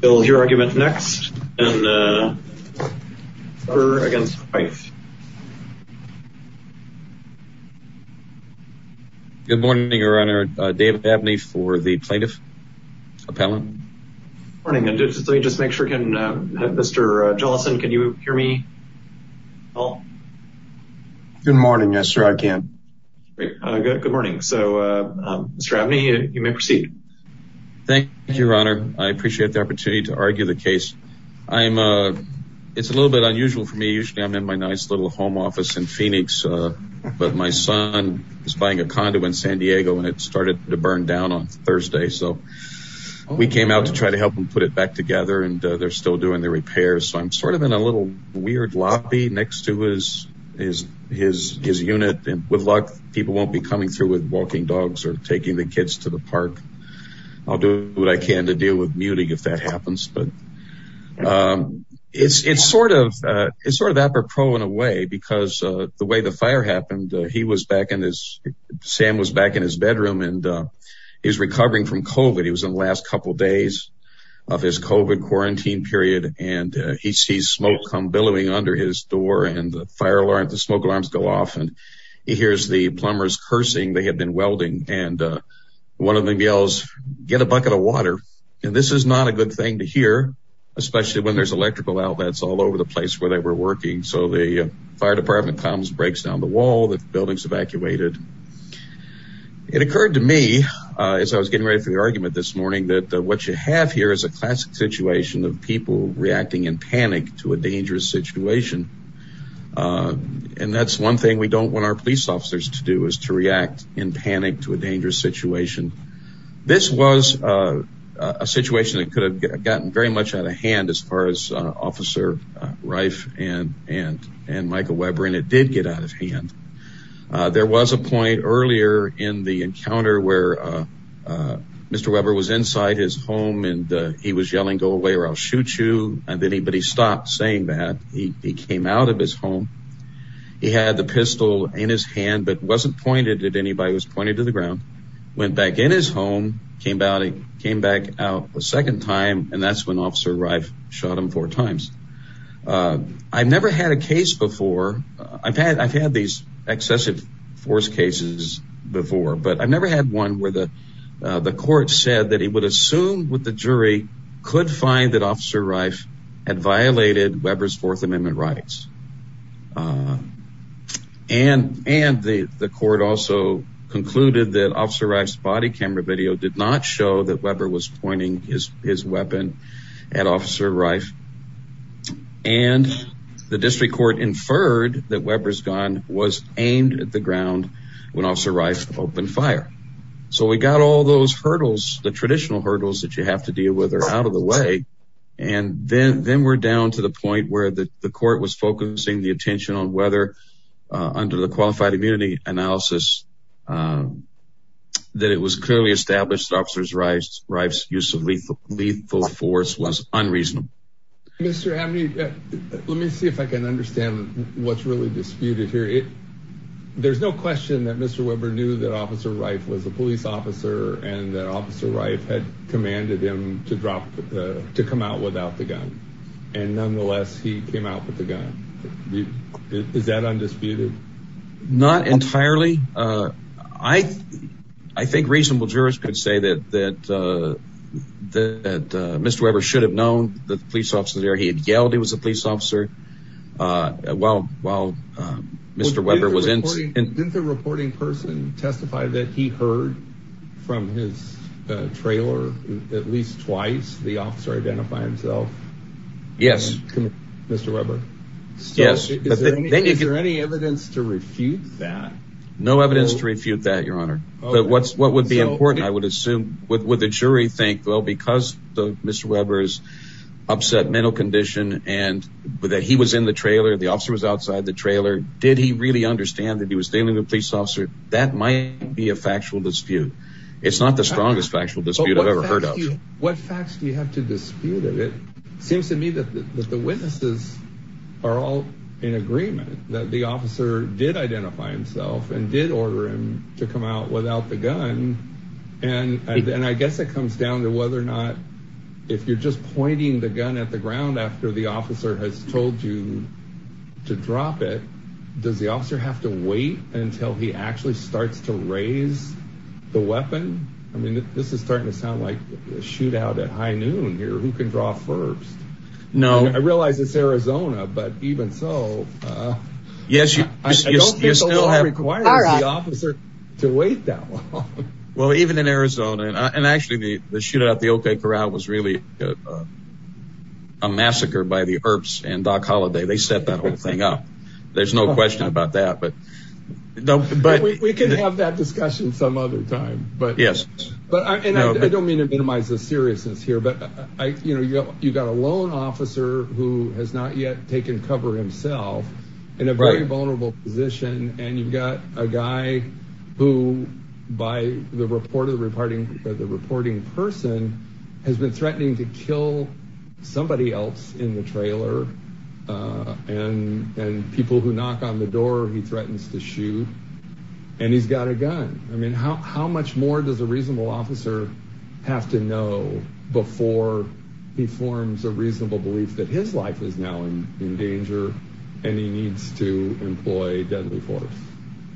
Bill's your argument next and, uh, her against twice. Good morning, your honor. Uh, David Abney for the plaintiff appellant. Morning. And just, let me just make sure. Can, uh, Mr. Jolson, can you hear me? Oh, good morning. Yes, sir. I can. Great. Uh, good. Good morning. So, uh, Mr. Abney, you may proceed. Thank you, your honor. I appreciate the opportunity to argue the case. I'm, uh, it's a little bit unusual for me. Usually I'm in my nice little home office in Phoenix. Uh, but my son is buying a condo in San Diego and it started to burn down on Thursday, so we came out to try to help them put it back together and, uh, they're still doing the repairs. So I'm sort of in a little weird lobby next to his, his, his unit and with be coming through with walking dogs or taking the kids to the park. I'll do what I can to deal with muting if that happens. But, um, it's, it's sort of, uh, it's sort of apropos in a way because, uh, the way the fire happened, uh, he was back in his, Sam was back in his bedroom and, uh, he was recovering from COVID. He was in the last couple of days of his COVID quarantine period. And, uh, he sees smoke come billowing under his door and the fire alarms go off and he hears the plumbers cursing. They had been welding and, uh, one of them yells, get a bucket of water. And this is not a good thing to hear, especially when there's electrical outlets all over the place where they were working. So the fire department comes, breaks down the wall, the buildings evacuated. It occurred to me, uh, as I was getting ready for the argument this morning, that what you have here is a classic situation of people reacting in panic to a dangerous situation. Uh, and that's one thing we don't want our police officers to do is to react in panic to a dangerous situation. This was, uh, a situation that could have gotten very much out of hand as far as, uh, officer, uh, Reif and, and, and Michael Weber, and it did get out of hand. Uh, there was a point earlier in the encounter where, uh, uh, Mr. Weber was inside his home and, uh, he was yelling, go away or I'll shoot you. And then he, but he stopped saying that. He, he came out of his home. He had the pistol in his hand, but wasn't pointed at anybody. It was pointed to the ground, went back in his home, came out, he came back out a second time. And that's when officer Reif shot him four times. Uh, I've never had a case before. I've had, I've had these excessive force cases before, but I've never had one where the, uh, the court said that he would assume with the fourth amendment rights, uh, and, and the, the court also concluded that officer Reif's body camera video did not show that Weber was pointing his, his weapon at officer Reif. And the district court inferred that Weber's gun was aimed at the ground when officer Reif opened fire. So we got all those hurdles, the traditional hurdles that you have to deal with are out of the way. And then, then we're down to the point where the court was focusing the attention on whether, uh, under the qualified immunity analysis, um, that it was clearly established officers Reif's use of lethal force was unreasonable. Mr. Abney, let me see if I can understand what's really disputed here. It, there's no question that Mr. Weber knew that officer Reif was a police officer and that officer Reif had commanded him to drop, uh, to come out without the gun. And nonetheless, he came out with the gun. Is that undisputed? Not entirely. Uh, I, I think reasonable jurors could say that, that, uh, that, uh, Mr. Weber should have known that the police officer there, he had yelled he was a police officer, uh, while, while, um, Mr. Weber was in. Didn't the reporting person testify that he heard from his, uh, trailer at least twice, the officer identify himself? Yes. Mr. Weber. Yes. Is there any evidence to refute that? No evidence to refute that, your honor. But what's, what would be important? I would assume with, with the jury think, well, because the, Mr. Weber's upset mental condition and that he was in the trailer, the really understand that he was dealing with police officer. That might be a factual dispute. It's not the strongest factual dispute I've ever heard of. What facts do you have to dispute? And it seems to me that the witnesses are all in agreement that the officer did identify himself and did order him to come out without the gun. And, and I guess it comes down to whether or not, if you're just pointing the gun at the ground after the officer has told you to drop it. Does the officer have to wait until he actually starts to raise the weapon? I mean, this is starting to sound like a shootout at high noon here. Who can draw first? No, I realized it's Arizona, but even so, uh, yes, you still have required the officer to wait that long. Well, even in Arizona and actually the, the shootout, the Oak Bay Corral was really a massacre by the Earps and Doc Holliday, they set that whole thing up. There's no question about that, but don't, but we can have that discussion some other time, but yes, but I don't mean to minimize the seriousness here, but I, you know, you've got a lone officer who has not yet taken cover himself in a very vulnerable position. And you've got a guy who by the report of the reporting, the reporting person has been threatening to kill somebody else in the trailer. Uh, and, and people who knock on the door, he threatens to shoot and he's got a gun. I mean, how, how much more does a reasonable officer have to know before he forms a reasonable belief that his life is now in danger and he needs to employ deadly force?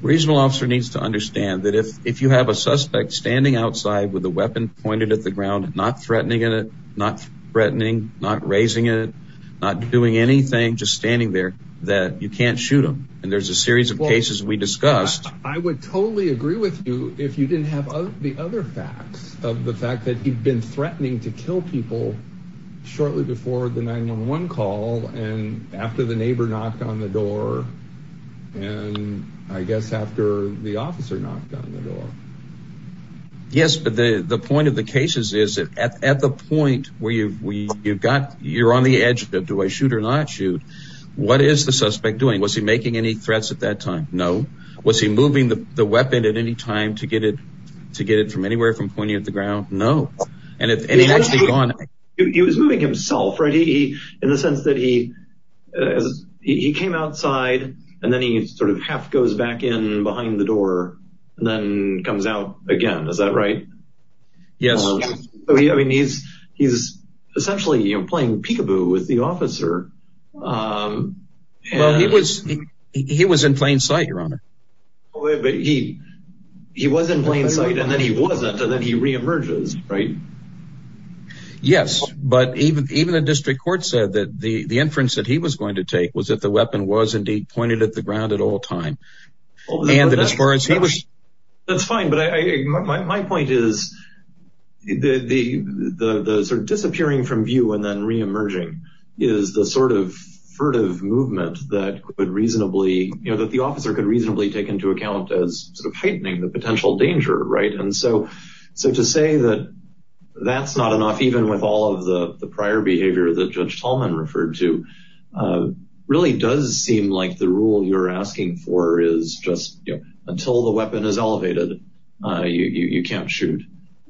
Reasonable officer needs to understand that if, if you have a suspect standing outside with a weapon pointed at the ground, not threatening it, not threatening, not raising it, not doing anything, just standing there, that you can't shoot them. And there's a series of cases we discussed. I would totally agree with you if you didn't have the other facts of the fact that he'd been threatening to kill people shortly before the 911 call. And after the neighbor knocked on the door and I guess after the officer knocked on the door. Yes. But the, the point of the cases is that at the point where you've, you've got, you're on the edge of the, do I shoot or not shoot? What is the suspect doing? Was he making any threats at that time? No. Was he moving the weapon at any time to get it, to get it from anywhere from pointing at the ground? No. And if any actually gone, he was moving himself, right? He, in the sense that he, as he came outside and then he sort of half goes back in behind the door and then comes out again. Is that right? Yes. I mean, he's, he's essentially playing peekaboo with the officer. Well, he was, he was in plain sight, your honor. Oh wait, but he, he was in plain sight and then he wasn't. And then he reemerges, right? Yes. But even, even the district court said that the, the inference that he was going to take was that the weapon was indeed pointed at the ground at all time. And that as far as he was. That's fine. But I, my, my, my point is the, the, the, the sort of disappearing from view and then reemerging is the sort of furtive movement that could reasonably, you know, that the officer could reasonably take into account as sort of heightening the potential danger, right? And so, so to say that that's not enough, even with all of the prior behavior that Judge Tallman referred to really does seem like the rule you're asking for is just, you know, until the weapon is elevated, you, you, you can't shoot.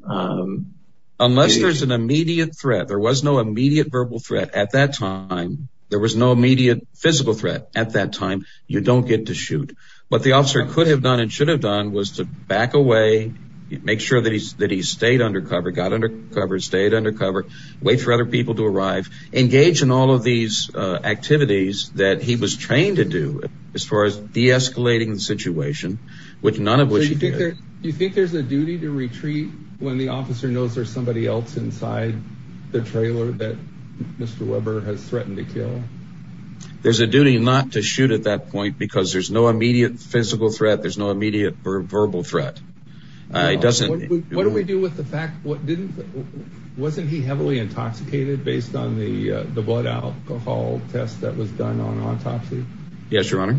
Unless there's an immediate threat, there was no immediate verbal threat at that time, there was no immediate physical threat at that time, you don't get to shoot, but the officer could have done and should have done was to back away, make sure that he's, that he stayed undercover, got undercover, stayed undercover, wait for other people to arrive, engage in all of these activities that he was trained to do as far as deescalating the situation, which none of which you think there, you think there's a duty to retreat when the officer knows there's somebody else inside the trailer that Mr. Weber has threatened to kill. There's a duty not to shoot at that point because there's no immediate physical threat. There's no immediate verbal threat. It doesn't, what do we do with the fact? What didn't, wasn't he heavily intoxicated based on the, uh, the blood alcohol test that was done on autopsy? Yes, Your Honor.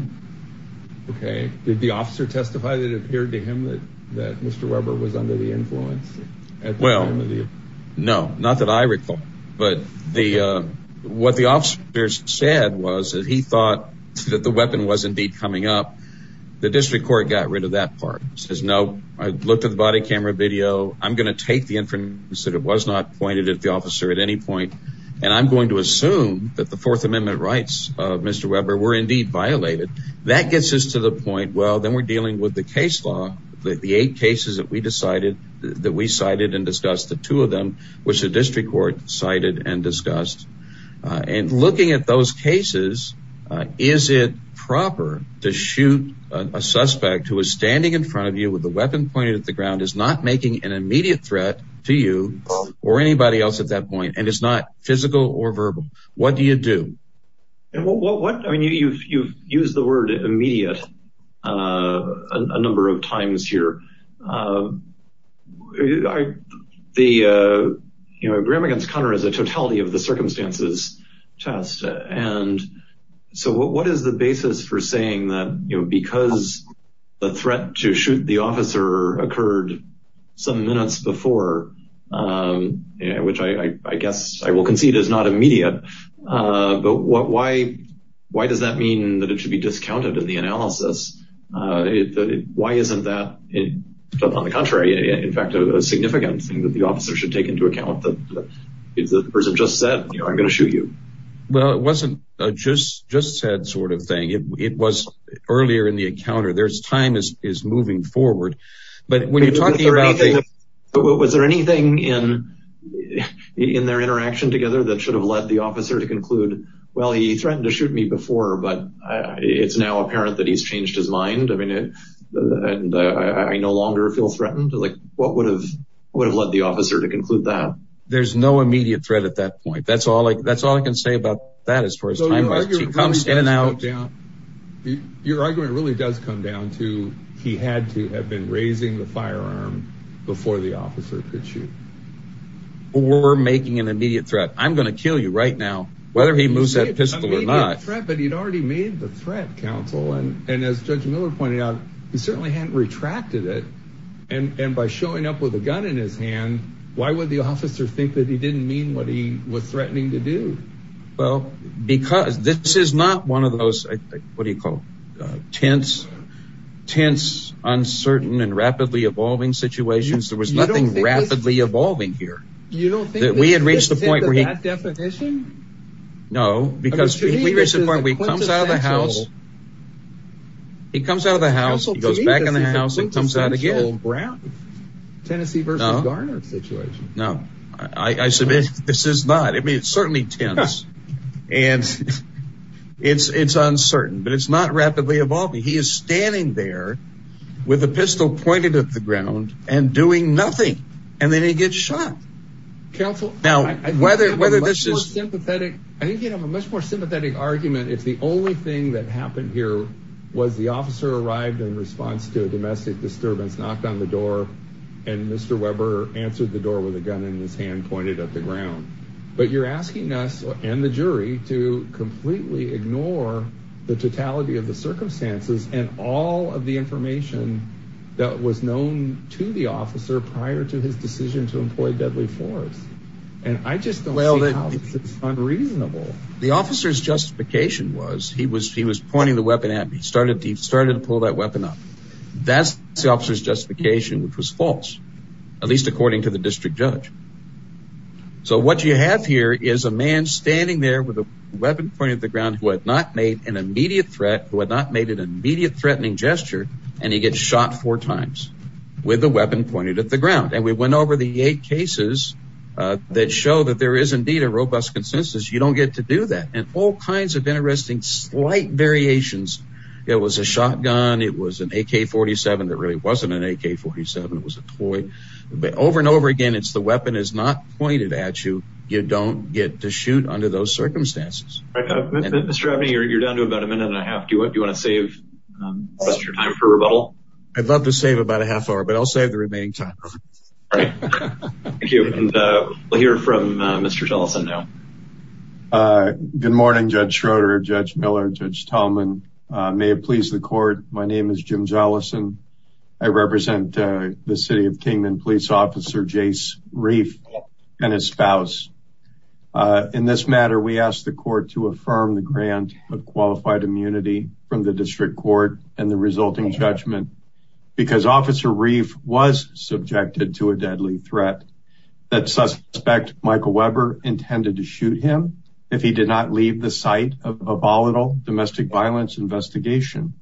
Okay. Did the officer testify that it appeared to him that, that Mr. Weber was under the influence? Well, no, not that I recall, but the, uh, what the officer said was that he thought that the weapon was indeed coming up, the district court got rid of that part, says, no, I looked at the body camera video, I'm going to take the assume that the fourth amendment rights of Mr. Weber were indeed violated. That gets us to the point. Well, then we're dealing with the case law, the eight cases that we decided that we cited and discussed the two of them, which the district court cited and discussed, uh, and looking at those cases, uh, is it proper to shoot a suspect who is standing in front of you with the weapon pointed at the ground is not making an immediate threat to you or anybody else at that point. And it's not physical or verbal. What do you do? And what, what, what, I mean, you've, you've used the word immediate, uh, a number of times here. Uh, the, uh, you know, Graham against Conner is a totality of the circumstances test and so what, what is the basis for saying that, you know, because the I will concede is not immediate. Uh, but what, why, why does that mean that it should be discounted in the analysis? Uh, why isn't that on the contrary, in fact, a significant thing that the officer should take into account that the person just said, you know, I'm going to shoot you. Well, it wasn't just, just said sort of thing. It was earlier in the encounter. There's time is, is moving forward, but when you're talking about, was there anything in, in their interaction together that should have led the officer to conclude, well, he threatened to shoot me before, but it's now apparent that he's changed his mind. I mean, and I no longer feel threatened. Like what would have, would have led the officer to conclude that? There's no immediate threat at that point. That's all I, that's all I can say about that as far as time comes in and out. Your argument really does come down to, he had to have been raising the firearm before the officer could shoot. We're making an immediate threat. I'm going to kill you right now. Whether he moves that pistol or not. An immediate threat, but he'd already made the threat counsel. And as judge Miller pointed out, he certainly hadn't retracted it. And by showing up with a gun in his hand, why would the officer think that he didn't mean what he was threatening to do? Well, because this is not one of those, what do you call tense, tense, uncertain and rapidly evolving situations. There was nothing rapidly evolving here that we had reached the point where he no, because we reached the point where he comes out of the house, he comes out of the house, he goes back in the house and comes out again, Tennessee versus Garner situation. No, I, I submit this is not, I mean, it's certainly tense and it's, it's uncertain, but it's not rapidly evolving. He is standing there with a pistol pointed at the ground and doing nothing. And then he gets shot. Counsel. Now, whether, whether this is sympathetic, I think you'd have a much more sympathetic argument. If the only thing that happened here was the officer arrived in response to a domestic disturbance, knocked on the door and Mr. Weber answered the door with a gun in his hand, pointed at the ground. But you're asking us and the jury to completely ignore the totality of the circumstances and all of the information that was known to the officer prior to his decision to employ deadly force. And I just don't see how this is unreasonable. The officer's justification was he was, he was pointing the weapon at me. He started to, he started to pull that weapon up. That's the officer's justification, which was false, at least according to the district judge. So what you have here is a man standing there with a weapon pointed at the who had not made an immediate threatening gesture. And he gets shot four times with a weapon pointed at the ground. And we went over the eight cases that show that there is indeed a robust consensus. You don't get to do that. And all kinds of interesting, slight variations. It was a shotgun. It was an AK-47 that really wasn't an AK-47. It was a toy. But over and over again, it's the weapon is not pointed at you. You don't get to shoot under those circumstances. Mr. Abney, you're down to about a minute and a half. Do you want to save the rest of your time for rebuttal? I'd love to save about a half hour, but I'll save the remaining time. All right. Thank you. And we'll hear from Mr. Jollison now. Good morning, Judge Schroeder, Judge Miller, Judge Tallman. May it please the court. My name is Jim Jollison. I represent the city of Kingman police officer, Jace Reif, and his spouse. In this matter, we asked the court to affirm the grant of qualified immunity from the district court and the resulting judgment because Officer Reif was subjected to a deadly threat that suspect Michael Weber intended to shoot him if he did not leave the site of a volatile domestic violence investigation.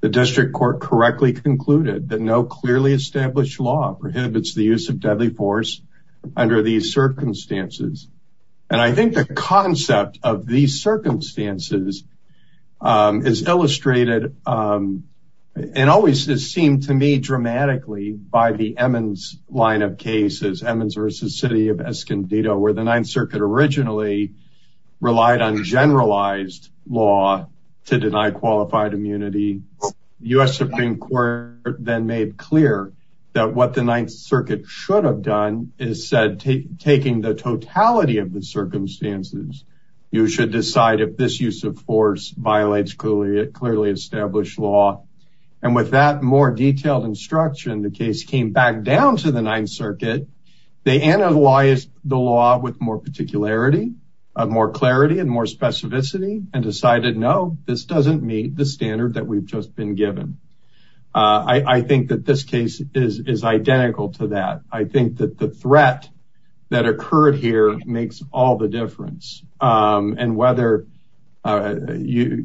The district court correctly concluded that no clearly established law prohibits the use of deadly force under these circumstances. And I think the concept of these circumstances is illustrated and always has seemed to me dramatically by the Emmons line of cases, Emmons versus city of Escondido, where the ninth circuit originally relied on generalized law to deny qualified immunity. U.S. Supreme court then made clear that what the ninth circuit should have done is said, taking the totality of the circumstances, you should decide if this use of force violates clearly established law. And with that more detailed instruction, the case came back down to the ninth circuit, they analyzed the law with more particularity of more clarity and more clarity than what had just been given. I think that this case is identical to that. I think that the threat that occurred here makes all the difference. And whether Mr.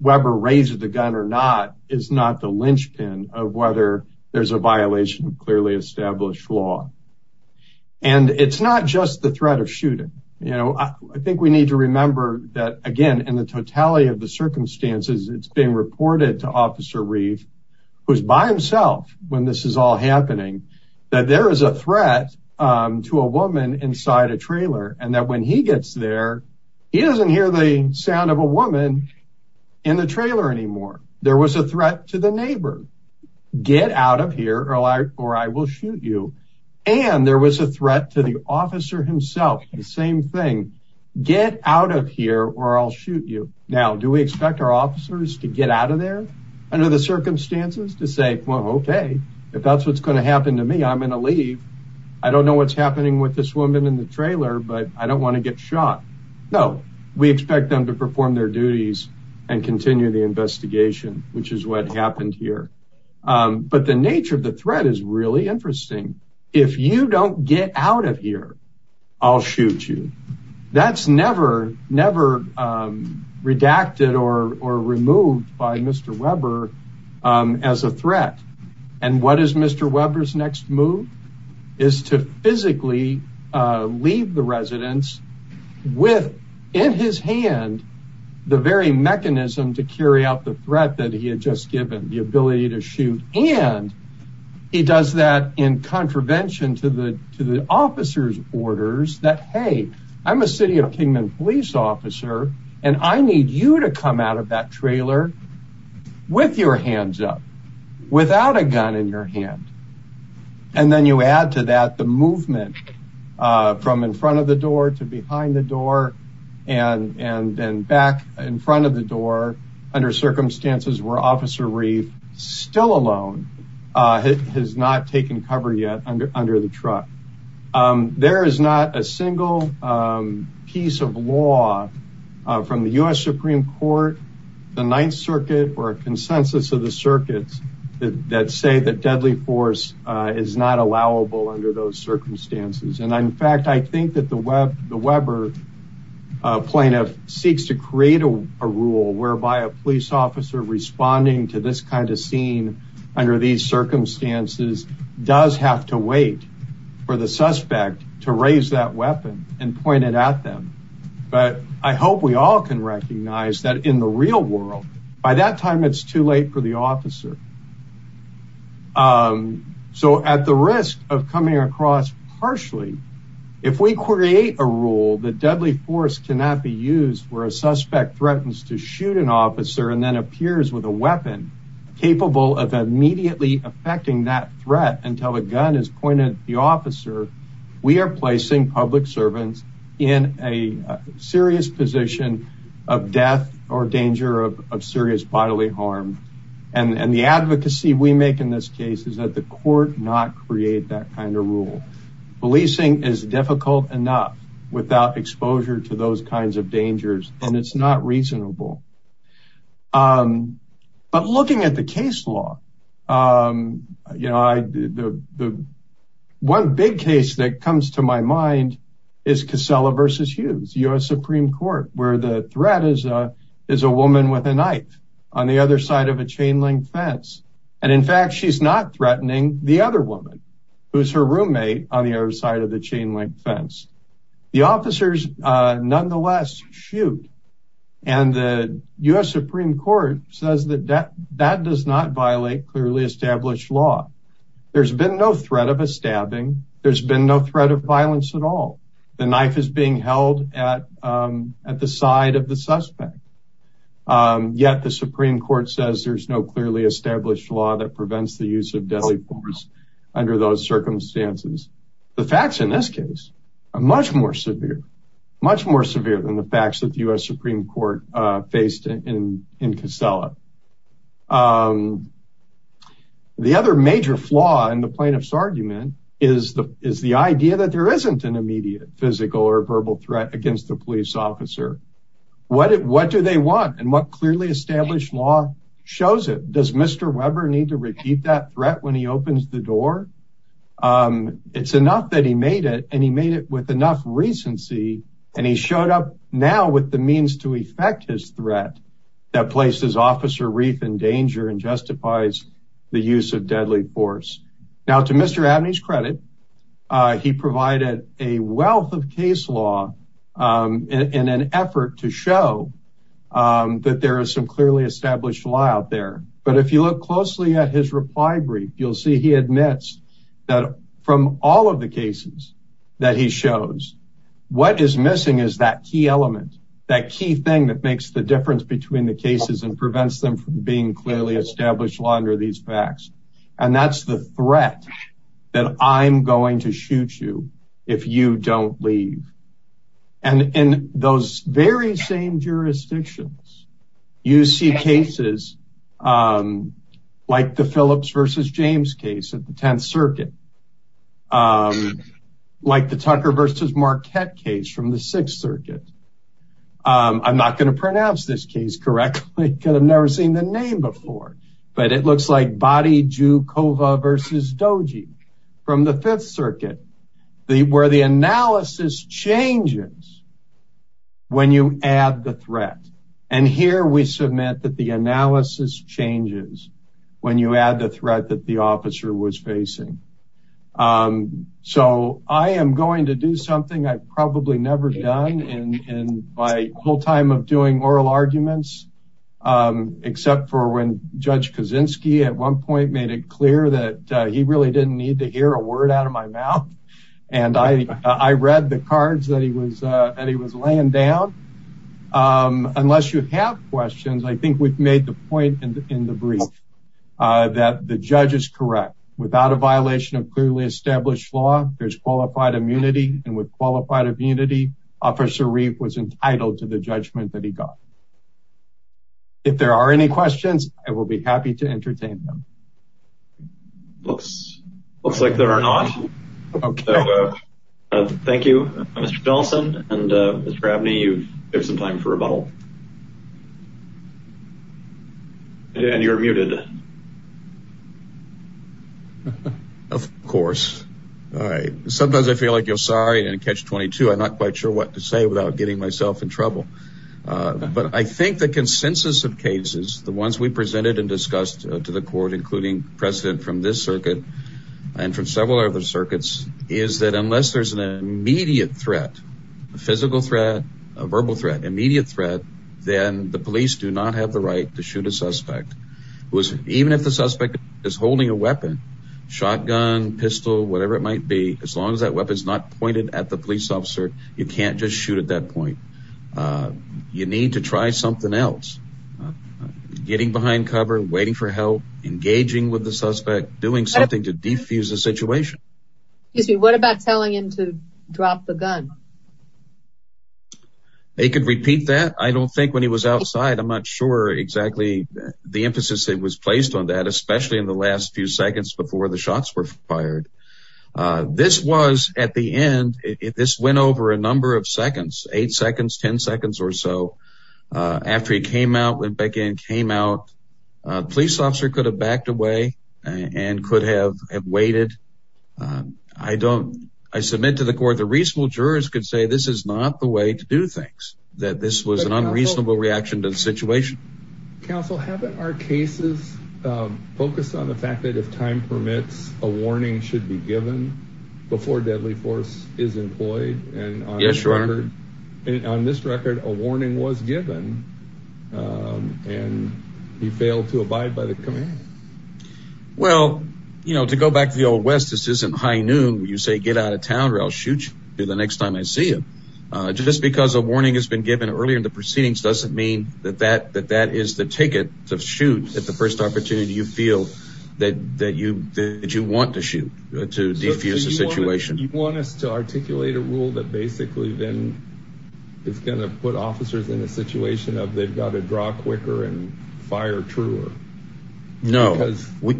Weber raised the gun or not, is not the linchpin of whether there's a violation of clearly established law. And it's not just the threat of shooting. You know, I think we need to remember that again, in the totality of the circumstances, it's being reported to officer Reeve, who's by himself when this is all happening, that there is a threat to a woman inside a trailer. And that when he gets there, he doesn't hear the sound of a woman in the trailer anymore. There was a threat to the neighbor. Get out of here or I will shoot you. And there was a threat to the officer himself, the same thing. Get out of here or I'll shoot you. Now, do we expect our officers to get out of there under the circumstances to say, well, okay, if that's, what's going to happen to me, I'm going to leave. I don't know what's happening with this woman in the trailer, but I don't want to get shot. No, we expect them to perform their duties and continue the investigation, which is what happened here. But the nature of the threat is really interesting. If you don't get out of here, I'll shoot you. That's never redacted or removed by Mr. Weber as a threat. And what is Mr. Weber's next move is to physically leave the residence with in his hand, the very mechanism to carry out the threat that he had just given, the ability to shoot. And he does that in contravention to the, to the officer's orders that, Hey, I'm a city of Kingman police officer, and I need you to come out of that trailer with your hands up without a gun in your hand. And then you add to that the movement from in front of the door to behind the door and, and then back in front of the door under circumstances where officer still alone has not taken cover yet under, under the truck. There is not a single piece of law from the U.S. Supreme court, the ninth circuit, or a consensus of the circuits that say that deadly force is not allowable under those circumstances. And in fact, I think that the web, the Weber plaintiff seeks to create a rule whereby a police officer responding to this kind of scene under these circumstances does have to wait for the suspect to raise that weapon and point it at them. But I hope we all can recognize that in the real world, by that time, it's too late for the officer. So at the risk of coming across partially, if we create a rule, the deadly force cannot be used where a suspect threatens to shoot an officer and then appears with a weapon capable of immediately affecting that threat until a gun is pointed at the officer, we are placing public servants in a serious position of death or danger of, of serious bodily harm. And the advocacy we make in this case is that the court not create that kind of rule. Policing is difficult enough without exposure to those kinds of dangers and it's not reasonable. But looking at the case law, you know, the one big case that comes to my mind is Casella versus Hughes, U.S. Supreme court, where the threat is, is a woman with a knife on the other side of a chain link fence. And in fact, she's not threatening the other woman who's her roommate on the other side of the chain link fence. The officers nonetheless shoot and the U.S. Supreme court says that that, that does not violate clearly established law. There's been no threat of a stabbing. There's been no threat of violence at all. The knife is being held at, at the side of the suspect. Yet the Supreme court says there's no clearly established law that prevents the use of deadly force under those circumstances. The facts in this case are much more severe, much more severe than the facts that the U.S. Supreme court faced in, in Casella. The other major flaw in the plaintiff's argument is the, is the idea that there isn't an immediate physical or verbal threat against the police officer. What, what do they want and what clearly established law shows it? Does Mr. Weber need to repeat that threat when he opens the door? It's enough that he made it and he made it with enough recency and he showed up now with the means to effect his threat that places officer Reef in danger and justifies the use of deadly force. Now to Mr. Dabney's credit, he provided a wealth of case law in an effort to show that there is some clearly established law out there. But if you look closely at his reply brief, you'll see he admits that from all of the cases that he shows, what is missing is that key element, that key thing that makes the difference between the cases and prevents them from being clearly established law under these facts. And that's the threat that I'm going to shoot you if you don't leave. And in those very same jurisdictions, you see cases like the Phillips versus James case at the 10th circuit, like the Tucker versus Marquette case from the sixth circuit. I'm not going to pronounce this case correctly because I've never seen the name before, but it looks like body Jukova versus Doji from the fifth circuit where the analysis changes when you add the threat. And here we submit that the analysis changes when you add the threat that the officer was facing. So I am going to do something I've probably never done in my whole time of doing oral arguments, except for when Judge Kaczynski at one point made it clear that he really didn't need to hear a word out of my mouth. And I read the cards that he was laying down. Unless you have questions, I think we've made the point in the brief that the judge is correct. Without a violation of clearly established law, there's qualified immunity. And with qualified immunity, Officer Reeve was entitled to the judgment that he got. If there are any questions, I will be happy to entertain them. Looks like there are not. Thank you, Mr. Nelson and Mr. Abney, you have some time for rebuttal. And you're muted. Of course, I sometimes I feel like you're sorry and catch 22. I'm not quite sure what to say without getting myself in trouble. But I think the consensus of cases, the ones we presented and discussed to the court, including precedent from this circuit and from several other circuits, is that unless there's an immediate threat, a physical threat, a verbal threat, immediate threat, then the police do not have the right to shoot a suspect. Even if the suspect is holding a weapon, shotgun, pistol, whatever it might be, as long as that weapon is not pointed at the police officer, you can't just shoot at that point. You need to try something else. Getting behind cover, waiting for help, engaging with the suspect, doing something to defuse the situation. What about telling him to drop the gun? They could repeat that. I don't think when he was outside, I'm not sure exactly the emphasis that was placed on that, especially in the last few seconds before the shots were fired. This was at the end, this went over a number of seconds, eight seconds, 10 seconds or so. After he came out, went back in, came out, a police officer could have backed away and could have waited. I don't, I submit to the court, the reasonable jurors, I don't think that's the way to do things. That this was an unreasonable reaction to the situation. Counsel, haven't our cases focused on the fact that if time permits, a warning should be given before deadly force is employed? And on this record, a warning was given and he failed to abide by the command. Well, you know, to go back to the old West, this isn't high noon. You say, get out of town or I'll shoot you. The next time I see him, just because a warning has been given earlier in the proceedings, doesn't mean that that is the ticket to shoot at the first opportunity you feel that you want to shoot to defuse the situation. You want us to articulate a rule that basically then is going to put officers in a situation of they've got to draw quicker and fire truer. No, we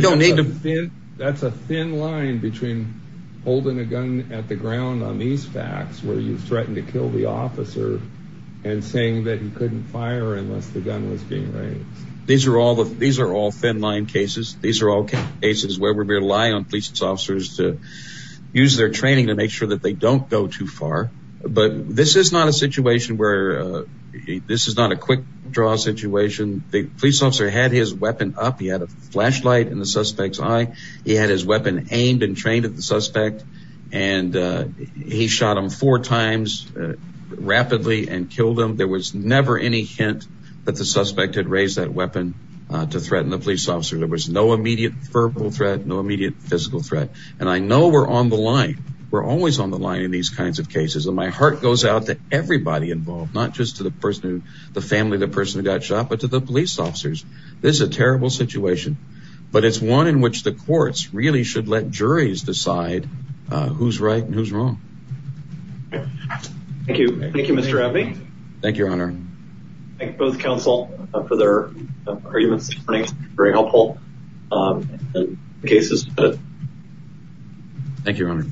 don't need to. That's a thin line between holding a gun at the ground on these facts, where you threatened to kill the officer and saying that you couldn't fire unless the gun was being raised. These are all thin line cases. These are all cases where we rely on police officers to use their training to make sure that they don't go too far. But this is not a situation where, this is not a quick draw situation. The police officer had his weapon up. He had a flashlight in the suspect's eye. He had his weapon aimed and trained at the suspect. And he shot him four times rapidly and killed him. There was never any hint that the suspect had raised that weapon to threaten the police officer. There was no immediate verbal threat, no immediate physical threat. And I know we're on the line. We're always on the line in these kinds of cases. And my heart goes out to everybody involved, not just to the person who, the family, the person who got shot, but to the police officers. This is a terrible situation, but it's one in which the courts really should let juries decide who's right and who's wrong. Thank you. Thank you, Mr. Abbey. Thank you, Your Honor. Thank both counsel for their arguments this morning. Um, and the cases. Thank you, Your Honor.